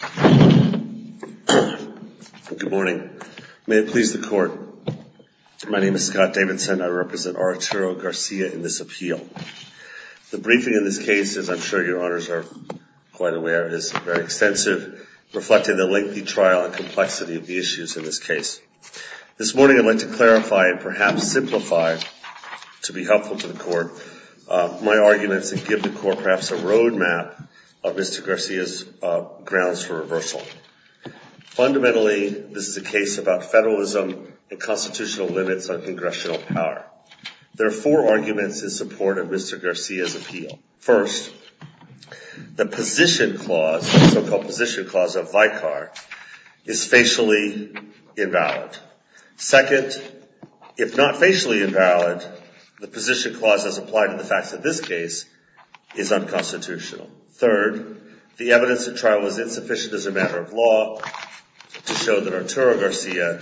Good morning. May it please the court, my name is Scott Davidson. I represent Arturo Garcia in this appeal. The briefing in this case, as I'm sure your honors are quite aware, is very extensive, reflecting the lengthy trial and complexity of the issues in this case. This morning I'd like to clarify and perhaps simplify, to be helpful to the court, my arguments and give the court perhaps a roadmap of Mr. Garcia's grounds for reversal. Fundamentally, this is a case about federalism and constitutional limits on congressional power. There are four arguments in support of Mr. Garcia's appeal. First, the position clause, the so-called position clause of Vicar, is facially invalid. Second, if not facially invalid, the position clause, as applied to the facts of this case, is unconstitutional. Third, the evidence at trial was insufficient as a matter of law to show that Arturo Garcia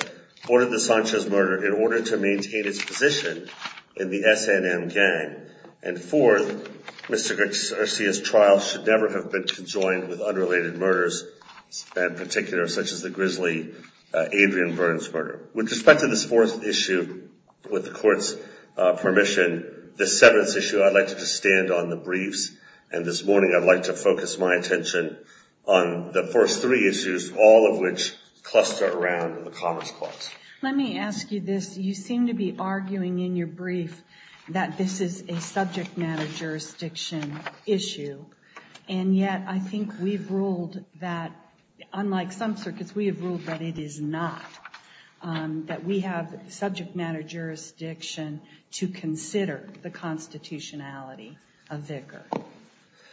ordered the Sanchez murder in order to maintain his position in the SNM gang. And fourth, Mr. Garcia's trial should never have been conjoined with unrelated murders, in particular such as the grisly Adrian Burns murder. With respect to this fourth issue, with the court's permission, this seventh issue, I'd like to just stand on the briefs, and this morning I'd like to focus my attention on the first three issues, all of which cluster around the commons clause. Let me ask you this. You seem to be arguing in your brief that this is a subject matter jurisdiction issue, and yet I think we've ruled that, unlike some circuits, we have ruled that it is not, that we have subject matter jurisdiction to consider the constitutionality of Vicar.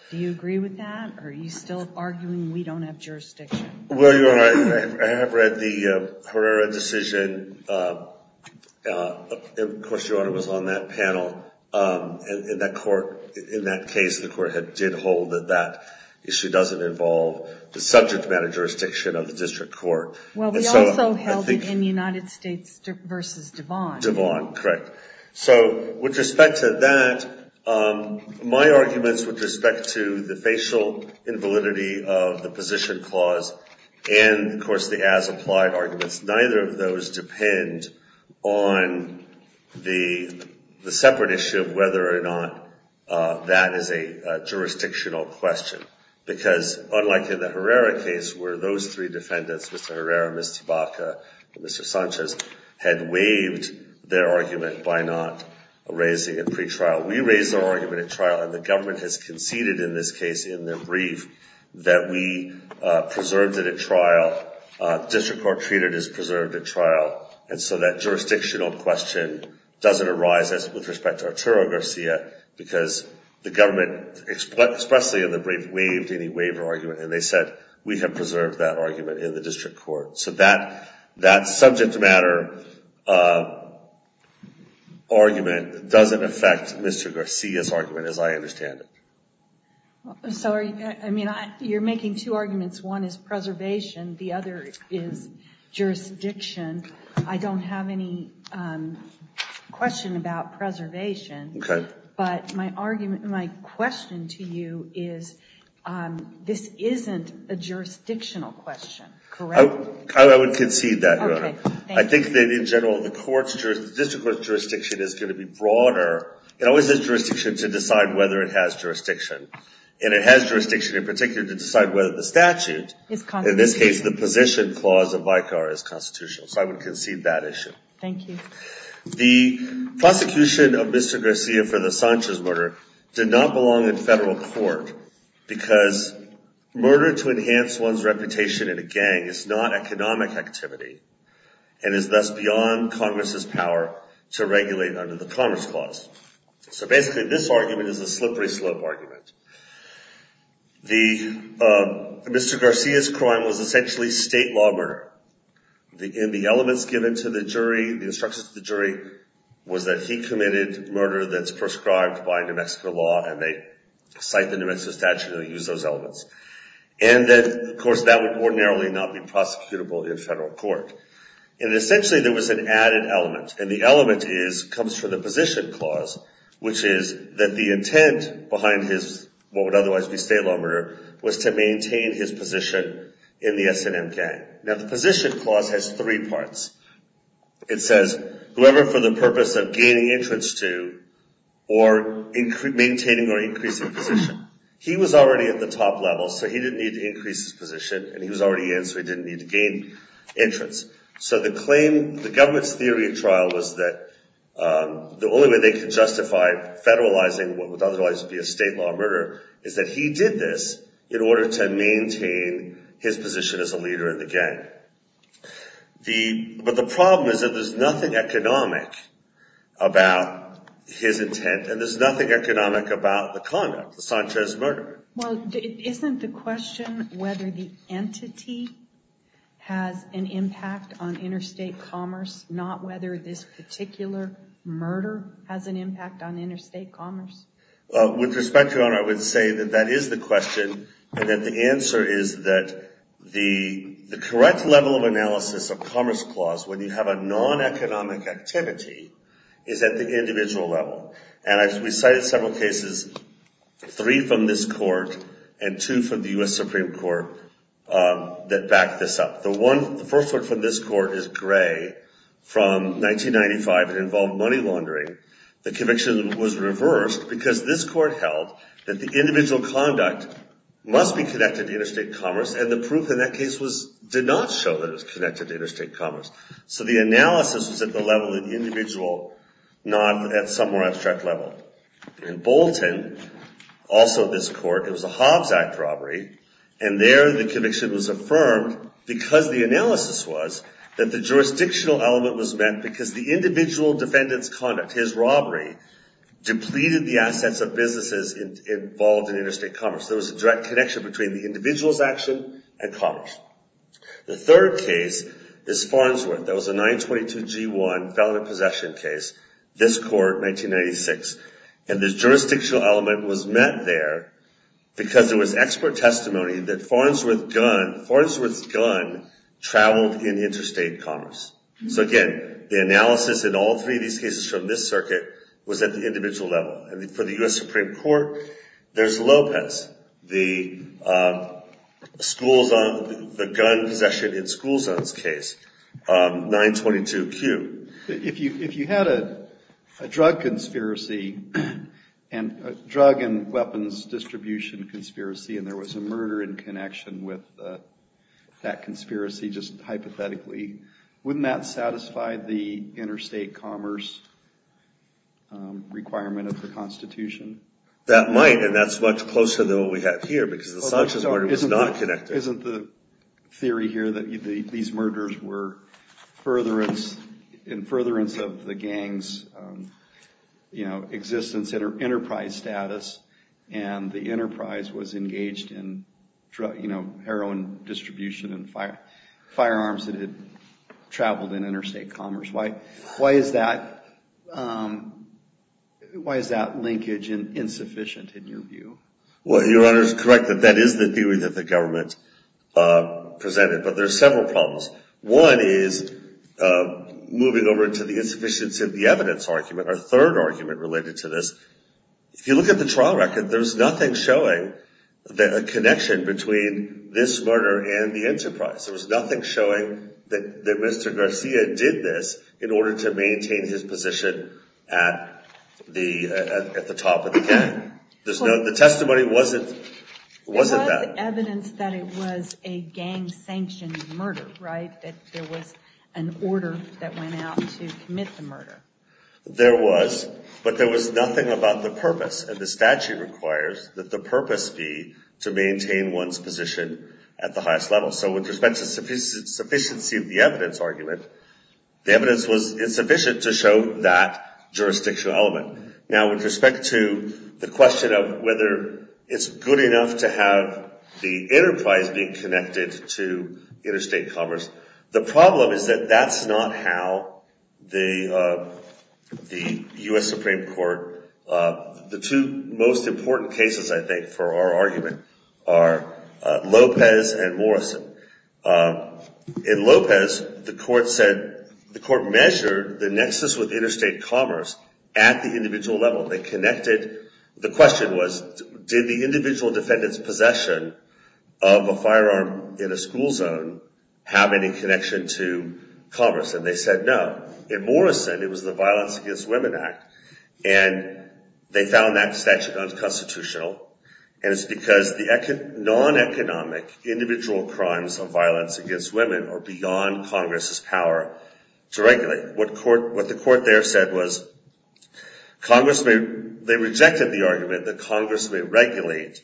Do you agree with that, or are you still arguing we don't have jurisdiction? Well, Your Honor, I have read the Herrera decision. Of course, Your Honor, it was on that panel, and in that court, in that case, the court did hold that that issue doesn't involve the subject matter jurisdiction of the district court. Well, we also held it in United States v. Devon. Devon, correct. So, with respect to that, my arguments with respect to the facial invalidity of the position clause, and of course the as-applied arguments, neither of those depend on the separate issue of whether or not that is a jurisdictional question. Because, unlike in the Herrera case, where those three defendants, Mr. Herrera, Ms. Tabaka, and Mr. Sanchez, had waived their argument by not raising it pre-trial, we raised our argument at trial, and the government has conceded in this case, in their brief, that we preserved it at trial. The district court treated it as preserved at trial, and so that jurisdictional question doesn't arise with respect to Arturo Garcia, because the government expressly in the brief waived any waiver argument, and they said, we have preserved that argument in the district court. So, that subject matter argument doesn't affect Mr. Garcia's argument, as I understand it. I'm sorry, I mean, you're making two arguments. One is preservation, the other is jurisdiction. I don't have any question about preservation, but my question to you is, this isn't a jurisdictional question, correct? I would concede that, Your Honor. I think that in general, the district court's jurisdiction is going to be broader. It always is jurisdiction to decide whether it has jurisdiction, and it has jurisdiction in particular to decide whether the statute, in this case, the position clause of Vicar, is constitutional. So, I would concede that issue. Thank you. The prosecution of Mr. Garcia for the Sanchez murder did not belong in federal court, because murder to enhance one's reputation in a gang is not economic activity, and is thus beyond Congress's power to regulate under the Commerce Clause. So, basically, this argument is a slippery slope argument. Mr. Garcia's crime was essentially state law murder. The elements given to the jury, the instructions to the jury, was that he committed murder that's prescribed by New Mexico law, and they cite the New Mexico statute, and they use those elements. And that, of course, that would ordinarily not be prosecutable in federal court. And essentially, there was an added element, and the element comes from the position clause, which is that the intent behind what would otherwise be state law murder was to maintain his position in the S&M gang. Now, the position clause has three parts. It says, whoever for the purpose of gaining entrance to, or maintaining or increasing position. He was already at the top level, so he didn't need to increase his position, and he was already in, so he didn't need to increase his position. So, the claim, the government's theory of trial was that the only way they could justify federalizing what would otherwise be a state law murder is that he did this in order to maintain his position as a leader in the gang. But the problem is that there's nothing economic about his intent, and there's nothing economic about the conduct, the Sanchez murder. Well, isn't the question whether the entity has an impact on interstate commerce, not whether this particular murder has an impact on interstate commerce? With respect, Your Honor, I would say that that is the question, and that the answer is that the correct level of analysis of commerce clause, when you have a non-economic activity, is at the individual level. And I've recited several cases, three from this court and two from the U.S. Supreme Court, that back this up. The first one from this court is Gray from 1995. It involved money laundering. The conviction was reversed because this court held that the individual conduct must be connected to interstate commerce, and the proof in that case did not show that it was connected to interstate commerce. So, the analysis was at the level of the individual, not at some more abstract level. In Bolton, also this court, it was a Hobbs Act robbery, and there the conviction was affirmed because the analysis was that the jurisdictional element was met because the individual defendant's conduct, his robbery, depleted the assets of businesses involved in interstate commerce. There was a direct connection between the individual's action and commerce. The third case is Farnsworth. That was a 922-G1 felon possession case, this court, 1996. And the jurisdictional element was met there because there was expert testimony that Farnsworth's gun traveled in interstate commerce. So, again, the analysis in all three of these cases from this circuit was at the individual level. For the U.S. Supreme Court, there's Lopez, the gun possession in school zones case, 922-Q. If you had a drug and weapons distribution conspiracy and there was a murder in connection with that conspiracy, just hypothetically, wouldn't that satisfy the interstate commerce requirement of the Constitution? That might, and that's much closer than what we have here because the Sanchez murder was not connected. Isn't the theory here that these murders were in furtherance of the gang's, you know, existence, enterprise status, and the enterprise was engaged in, you know, heroin distribution and firearms that had traveled in interstate commerce? Why is that linkage insufficient in your view? Well, Your Honor, correct that that is the theory that the government presented, but there's several problems. One is moving over to the insufficiency of the evidence argument, our third argument related to this. If you look at the trial record, there's nothing showing a connection between this murder and the enterprise. There was nothing showing that Mr. Garcia did this in order to maintain his position at the top of the gang. The testimony wasn't that. There was evidence that it was a gang-sanctioned murder, right? That there was an order that went out to commit the murder. There was, but there was nothing about the purpose, and the statute requires that the purpose be to maintain one's position at the highest level. So with respect to sufficiency of the evidence argument, the evidence was insufficient to show that jurisdictional element. Now with respect to the question of whether it's good enough to have the enterprise being the U.S. Supreme Court, the two most important cases, I think, for our argument are Lopez and Morrison. In Lopez, the court said, the court measured the nexus with interstate commerce at the individual level. They connected, the question was, did the individual defendant's possession of a firearm in a school zone have any connection to commerce? And they said no. In Morrison, it was the Violence Against Women Act, and they found that statute unconstitutional, and it's because the non-economic individual crimes of violence against women are beyond Congress's power to regulate. What the court there said was, they rejected the argument that Congress may regulate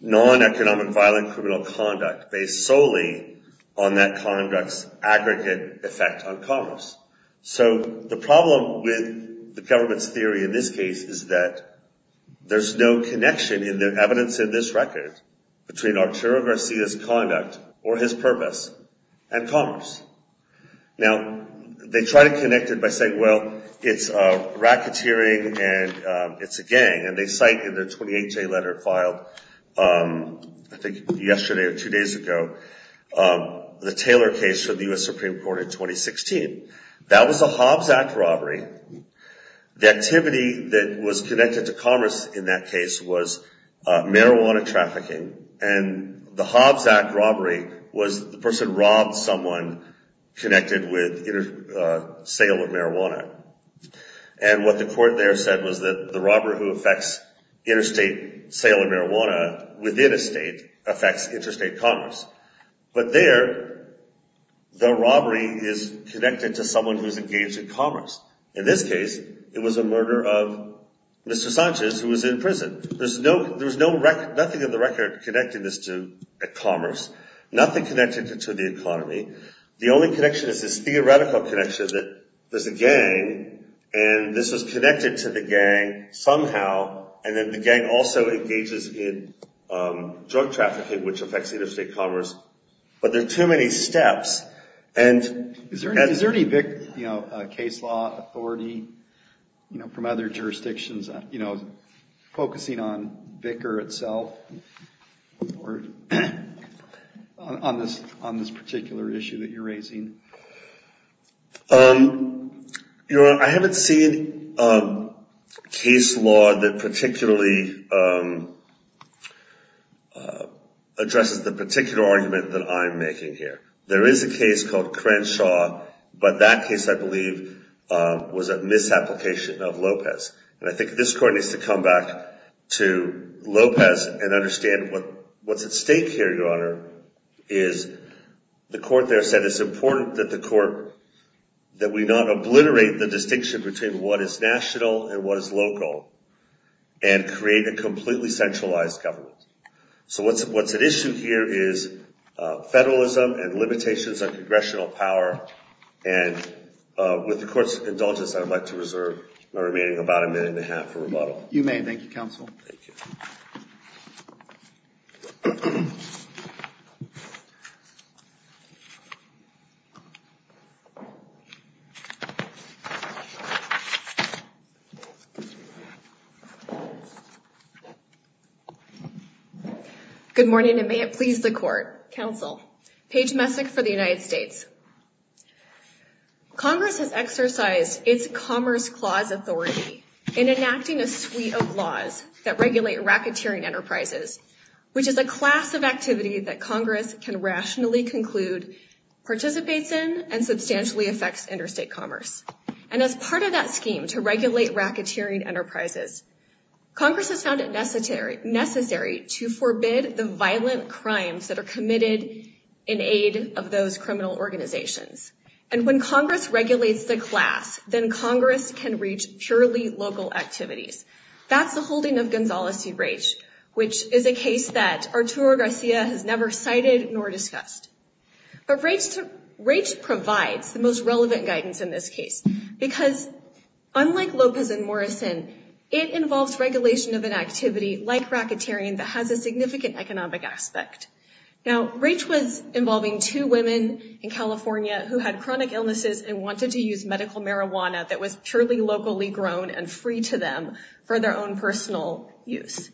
non-economic violent criminal conduct based solely on that conduct's aggregate effect on commerce. So the problem with the government's theory in this case is that there's no connection in the evidence in this record between Arturo Garcia's conduct or his purpose and commerce. Now, they try to connect it by saying, well, it's racketeering and it's a gang, and they cite in their 28-J letter filed, I think, yesterday or two days ago, the Taylor case for the U.S. Supreme Court in 2016. That was a Hobbs Act robbery. The activity that was connected to commerce in that case was marijuana trafficking, and the Hobbs Act robbery was the person robbed someone connected with sale of marijuana. And what the court there said was that the robber who affects interstate sale of marijuana within a state affects interstate commerce. But there, the robbery is connected to someone who's engaged in commerce. In this case, it was a murder of Mr. Sanchez, who was in prison. There's nothing in the record connecting this to commerce, nothing connected to the economy. The only connection is this theoretical connection that there's a gang, and this was connected to the gang somehow, and then the gang also engages in drug trafficking, which affects interstate commerce. But there are too many steps. And is there any case law authority from other jurisdictions focusing on Vicar itself or on this particular issue that you're raising? Your Honor, I haven't seen a case law that particularly addresses the particular argument that I'm making here. There is a case called Crenshaw, but that case I believe was a misapplication of Lopez. And I think this court needs to come back to Lopez and understand what's at stake. It's important that the court, that we not obliterate the distinction between what is national and what is local, and create a completely centralized government. So what's at issue here is federalism and limitations on congressional power. And with the Court's indulgence, I'd like to reserve my remaining about a minute and a half for rebuttal. You may. Thank you, Counsel. Good morning, and may it please the Court. Counsel, Paige Messick for the United States. Congress has exercised its Commerce Clause authority in enacting a suite of laws that regulate racketeering enterprises, which is a class of activity that Congress can rationally conclude participates in and substantially affects interstate commerce. And as part of that scheme to regulate racketeering enterprises, Congress has found it necessary to forbid the violent crimes that are committed in aid of those criminal organizations. And when Congress regulates the class, then Congress can reach purely local activities. That's the holding of Gonzales v. Raich, which is a case that Arturo Garcia has never cited nor discussed. But Raich provides the most relevant guidance in this case, because unlike Lopez and Morrison, it involves regulation of an activity like racketeering that has a significant economic aspect. Now, Raich was involving two women in California who had chronic illnesses and wanted to use medical marijuana that was purely locally grown and for their own personal use.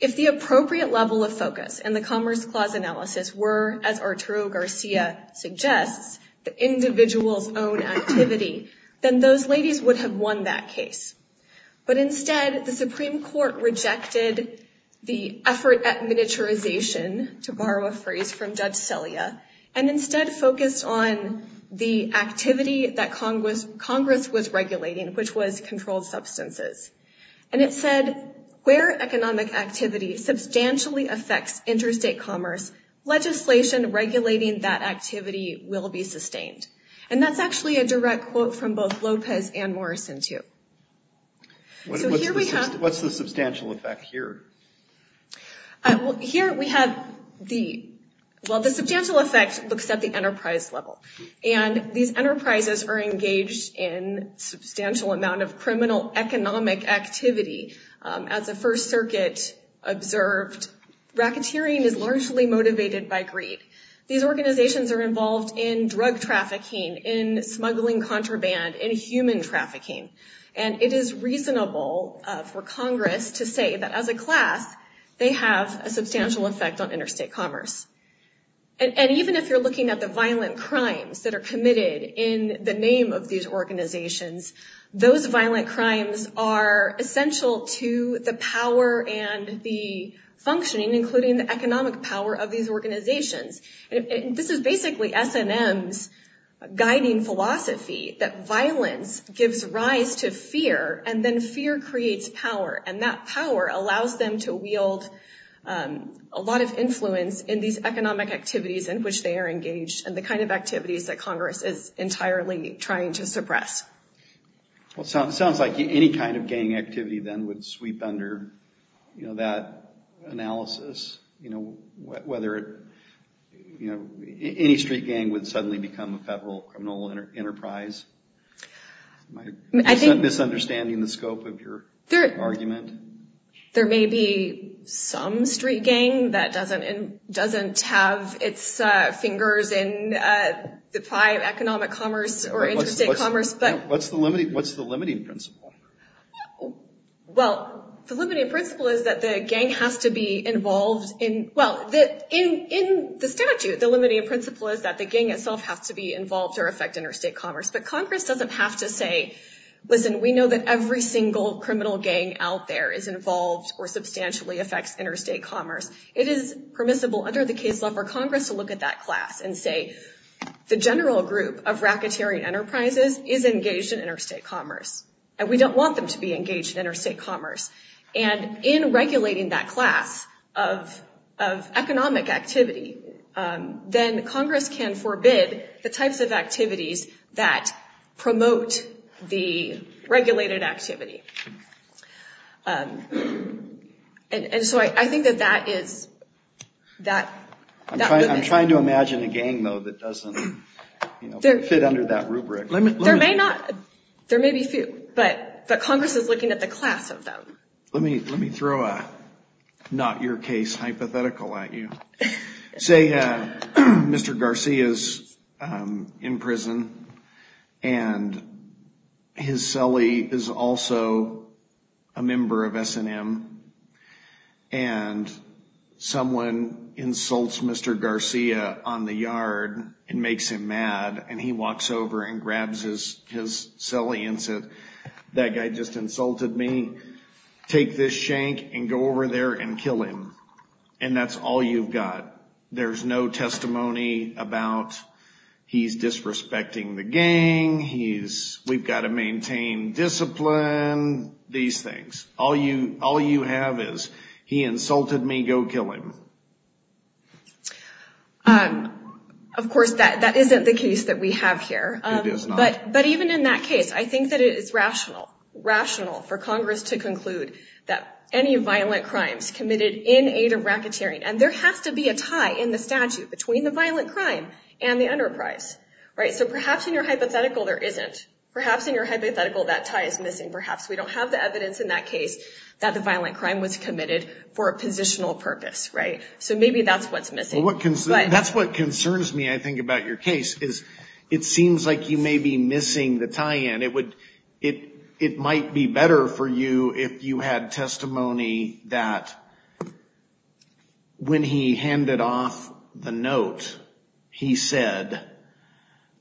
If the appropriate level of focus in the Commerce Clause analysis were, as Arturo Garcia suggests, the individual's own activity, then those ladies would have won that case. But instead, the Supreme Court rejected the effort at miniaturization, to borrow a phrase from Judge Celia, and instead focused on the activity that Congress was regulating, which was controlled substances. And it said, where economic activity substantially affects interstate commerce, legislation regulating that activity will be sustained. And that's actually a direct quote from both Lopez and Morrison, too. So here we have... What's the substantial effect here? Here we have the... Well, the substantial effect looks at the enterprise level. And these enterprises are engaged in a substantial amount of criminal economic activity. As the First Circuit observed, racketeering is largely motivated by greed. These organizations are involved in drug trafficking, in smuggling contraband, in human trafficking. And it is reasonable for Congress to say that as a class, they have a substantial effect on interstate commerce. And so, if you're interested in the name of these organizations, those violent crimes are essential to the power and the functioning, including the economic power of these organizations. This is basically S&M's guiding philosophy, that violence gives rise to fear, and then fear creates power. And that power allows them to wield a lot of influence in these entirely trying to suppress. Well, it sounds like any kind of gang activity, then, would sweep under that analysis, whether it... Any street gang would suddenly become a federal criminal enterprise. Am I misunderstanding the scope of your argument? There may be some street gang that doesn't have its fingers in the pie of economic activity or interstate commerce, but... What's the limiting principle? Well, the limiting principle is that the gang has to be involved in... Well, in the statute, the limiting principle is that the gang itself has to be involved or affect interstate commerce. But Congress doesn't have to say, listen, we know that every single criminal gang out there is involved or substantially affects interstate commerce. It is permissible under the case law for Congress to look at that class and say, the general group of racketeering enterprises is engaged in interstate commerce, and we don't want them to be engaged in interstate commerce. And in regulating that class of economic activity, then Congress can forbid the types of activities that promote the regulated activity. And so I think that that is... I'm trying to imagine a gang, though, that doesn't fit under that rubric. There may be a few, but Congress is looking at the class of them. Let me throw a not-your-case hypothetical at you. Say Mr. Garcia is in prison, and his brother-in-law, a member of S&M, and someone insults Mr. Garcia on the yard and makes him mad, and he walks over and grabs his celly and says, that guy just insulted me. Take this shank and go over there and kill him. And that's all you've got. There's no testimony about he's disrespecting the gang, we've got to maintain discipline, these things. All you have is, he insulted me, go kill him. Of course, that isn't the case that we have here. It is not. But even in that case, I think that it is rational, rational for Congress to conclude that any violent crimes committed in aid of racketeering, and there has to be a tie in the statute between the violent crime and the enterprise. So perhaps in your hypothetical there isn't. Perhaps in your hypothetical that tie is missing. Perhaps we don't have the evidence in that case that the violent crime was committed for a positional purpose. So maybe that's what's missing. That's what concerns me, I think, about your case, is it seems like you may be missing the tie-in. It might be better for you if you had testimony that when he handed off the note, he said,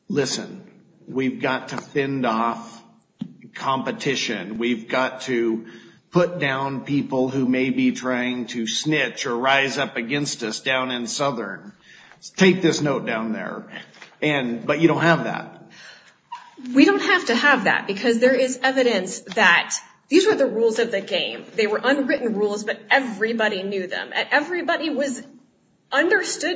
listen, we've got to fend off competition. We've got to put down people who may be trying to snitch or rise up against us down in Southern. Take this note down there. But you don't have that. We don't have to have that, because there is evidence that these were the rules of the gang. He wanted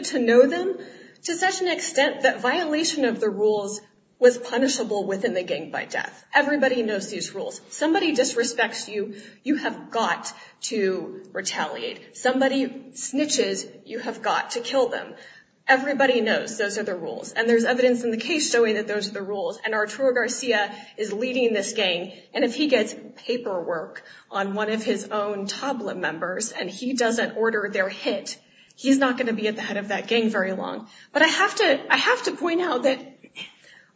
to know them to such an extent that violation of the rules was punishable within the gang by death. Everybody knows these rules. Somebody disrespects you, you have got to retaliate. Somebody snitches, you have got to kill them. Everybody knows those are the rules, and there's evidence in the case showing that those are the rules. And Arturo Garcia is leading this gang, and if he gets paperwork on one of his own tabla members, and he doesn't order their hit, he's not going to be at the head of that gang very long. But I have to point out that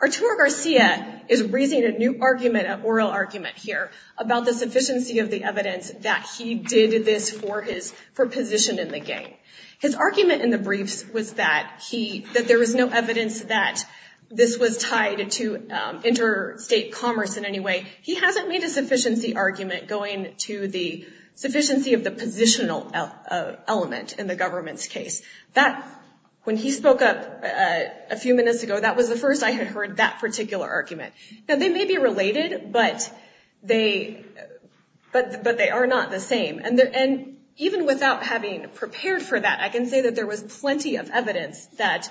Arturo Garcia is raising a new oral argument here about the sufficiency of the evidence that he did this for position in the gang. His argument in the briefs was that there was no evidence that this was tied to interstate commerce in any way. He hasn't made a sufficiency argument going to the sufficiency of the positional element in the government's case. That, when he spoke up a few minutes ago, that was the first I had heard that particular argument. Now they may be related, but they are not the same. And even without having prepared for that, I can say that there was plenty of evidence that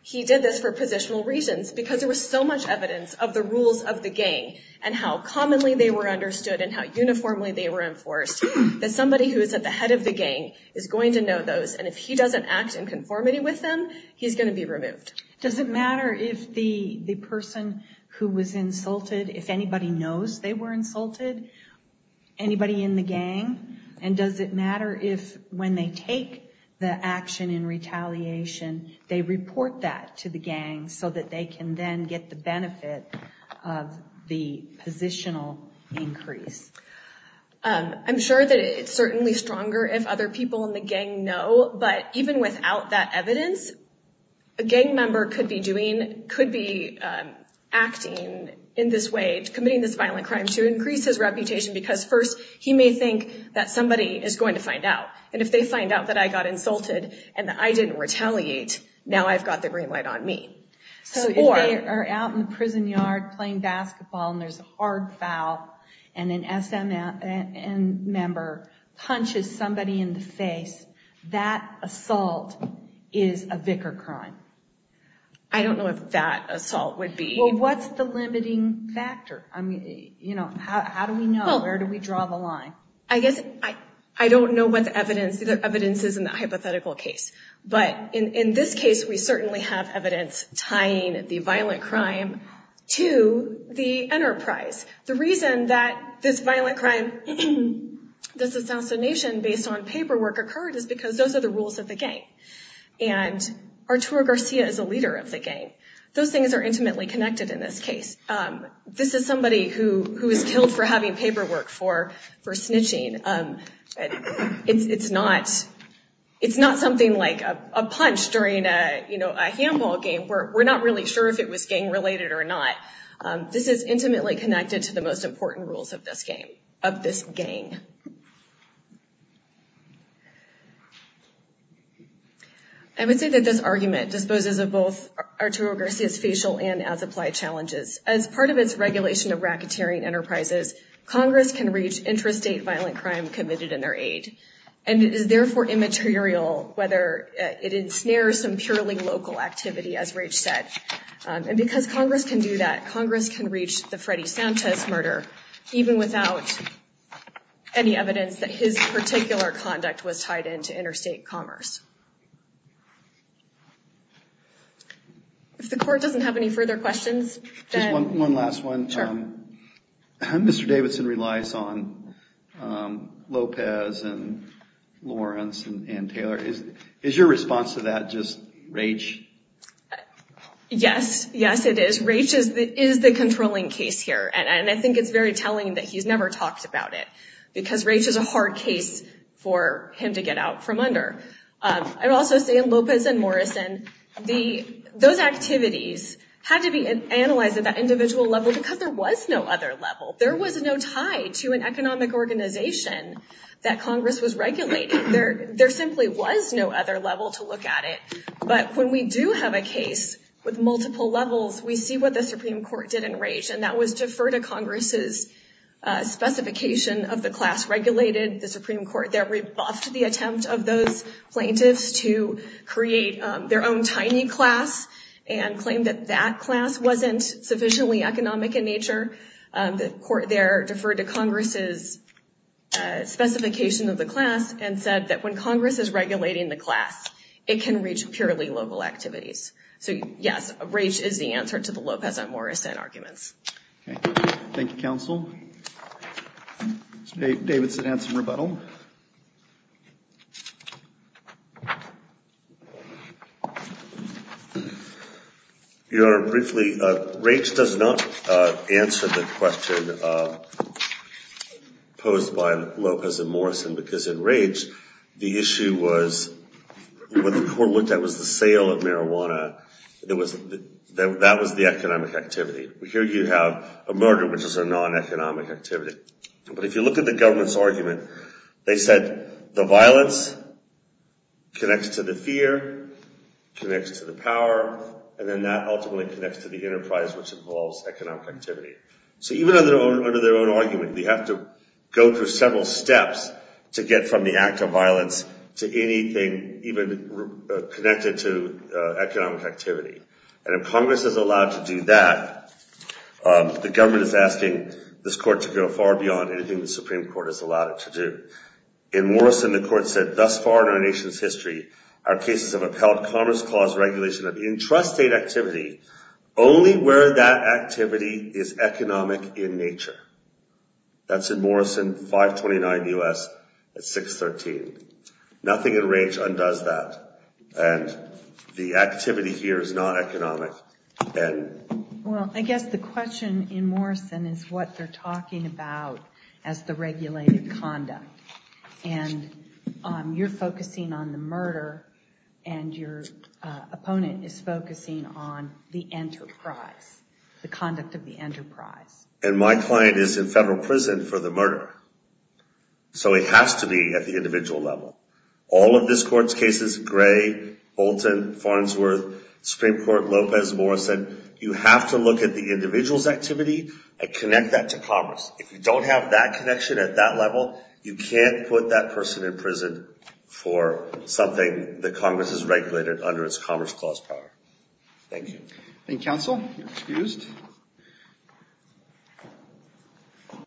he did this for positional reasons, because there was so much evidence of the rules of the gang, and how commonly they were understood, and how uniformly they were enforced, that somebody who is at the head of the gang is going to know those. And if he doesn't act in conformity with them, he's going to be removed. Does it matter if the person who was insulted, if anybody knows they were insulted, anybody in the gang? And does it matter if when they take the action in retaliation, they report that to the gang so that they can then get the benefit of the positional increase? I'm sure that it's certainly stronger if other people in the gang know, but even without that evidence, a gang member could be doing, could be acting in this way, committing this violent crime to increase his reputation, because first, he may think that somebody is going to find out. And if they find out that I got insulted, and that I didn't retaliate, now I've got the green light on me. So if they are out in the prison yard playing basketball, and there's a hard foul, and an SMN member punches somebody in the face, that assault is a vicar crime? I don't know if that assault would be... Well, what's the limiting factor? I mean, you know, how do we know? Where do we draw the line? I guess I don't know what the evidence is in that hypothetical case. But in this case, we certainly have evidence tying the violent crime to the enterprise. The reason that this violent crime, this assassination based on paperwork occurred is because those are the rules of the gang. And Arturo Garcia is a leader of the gang. Those things are intimately snitching. It's not something like a punch during a handball game where we're not really sure if it was gang related or not. This is intimately connected to the most important rules of this gang. I would say that this argument disposes of both Arturo Garcia's facial and as applied challenges. As part of its regulation of racketeering enterprises, Congress can reach intrastate violent crime committed in their aid. And it is therefore immaterial whether it ensnares some purely local activity, as Rach said. And because Congress can do that, Congress can reach the Freddy Sanchez murder even without any evidence that his particular conduct was tied into interstate commerce. If the court doesn't have any further questions, then... One last one. Mr. Davidson relies on Lopez and Lawrence and Taylor. Is your response to that just rage? Yes. Yes, it is. Rage is the controlling case here. And I think it's very telling that he's never talked about it because rage is a hard case for him to get out from under. I would say that those activities had to be analyzed at that individual level because there was no other level. There was no tie to an economic organization that Congress was regulating. There simply was no other level to look at it. But when we do have a case with multiple levels, we see what the Supreme Court did in rage. And that was to defer to Congress's specification of the class regulated. The Supreme Court there rebuffed the attempt of those plaintiffs to create their own tiny class and claimed that that class wasn't sufficiently economic in nature. The court there deferred to Congress's specification of the class and said that when Congress is regulating the class, it can reach purely local activities. So, yes, rage is the answer to the Lopez and Morrison arguments. Thank you, counsel. Mr. Davidson had some rebuttal. Your Honor, briefly, rage does not answer the question posed by Lopez and Morrison because in rage, the issue was when the court looked at was the sale of marijuana, that was the economic activity. Here you have a murder, which is a non-economic activity. But if you look at the government's argument, they said the violence connects to the fear, connects to the power, and then that ultimately connects to the enterprise, which involves economic activity. So even under their own argument, we have to go through several steps to get from the act of violence to anything even connected to economic activity. And if Congress is allowed to do that, the government is asking this court to go far beyond anything the Supreme Court has allowed it to do. In Morrison, the court said, thus far in our nation's history, our cases have upheld Commerce Clause regulation of intrastate activity only where that activity is economic in nature. That's in Morrison 529 U.S. at 613. Nothing in rage undoes that. And the activity here is not economic. Well, I guess the question in Morrison is what they're talking about as the regulated conduct. And you're focusing on the murder and your opponent is focusing on the enterprise, the conduct of the enterprise. And my client is in federal prison for the murder. So it has to be at the individual level. All of this court's cases, Gray, Bolton, Farnsworth, Supreme Court, Lopez, Morrison, you have to look at the individual's activity and connect that to Congress. If you don't have that connection at that level, you can't put that person in prison for something that Congress has regulated under its Commerce Clause power. Thank you.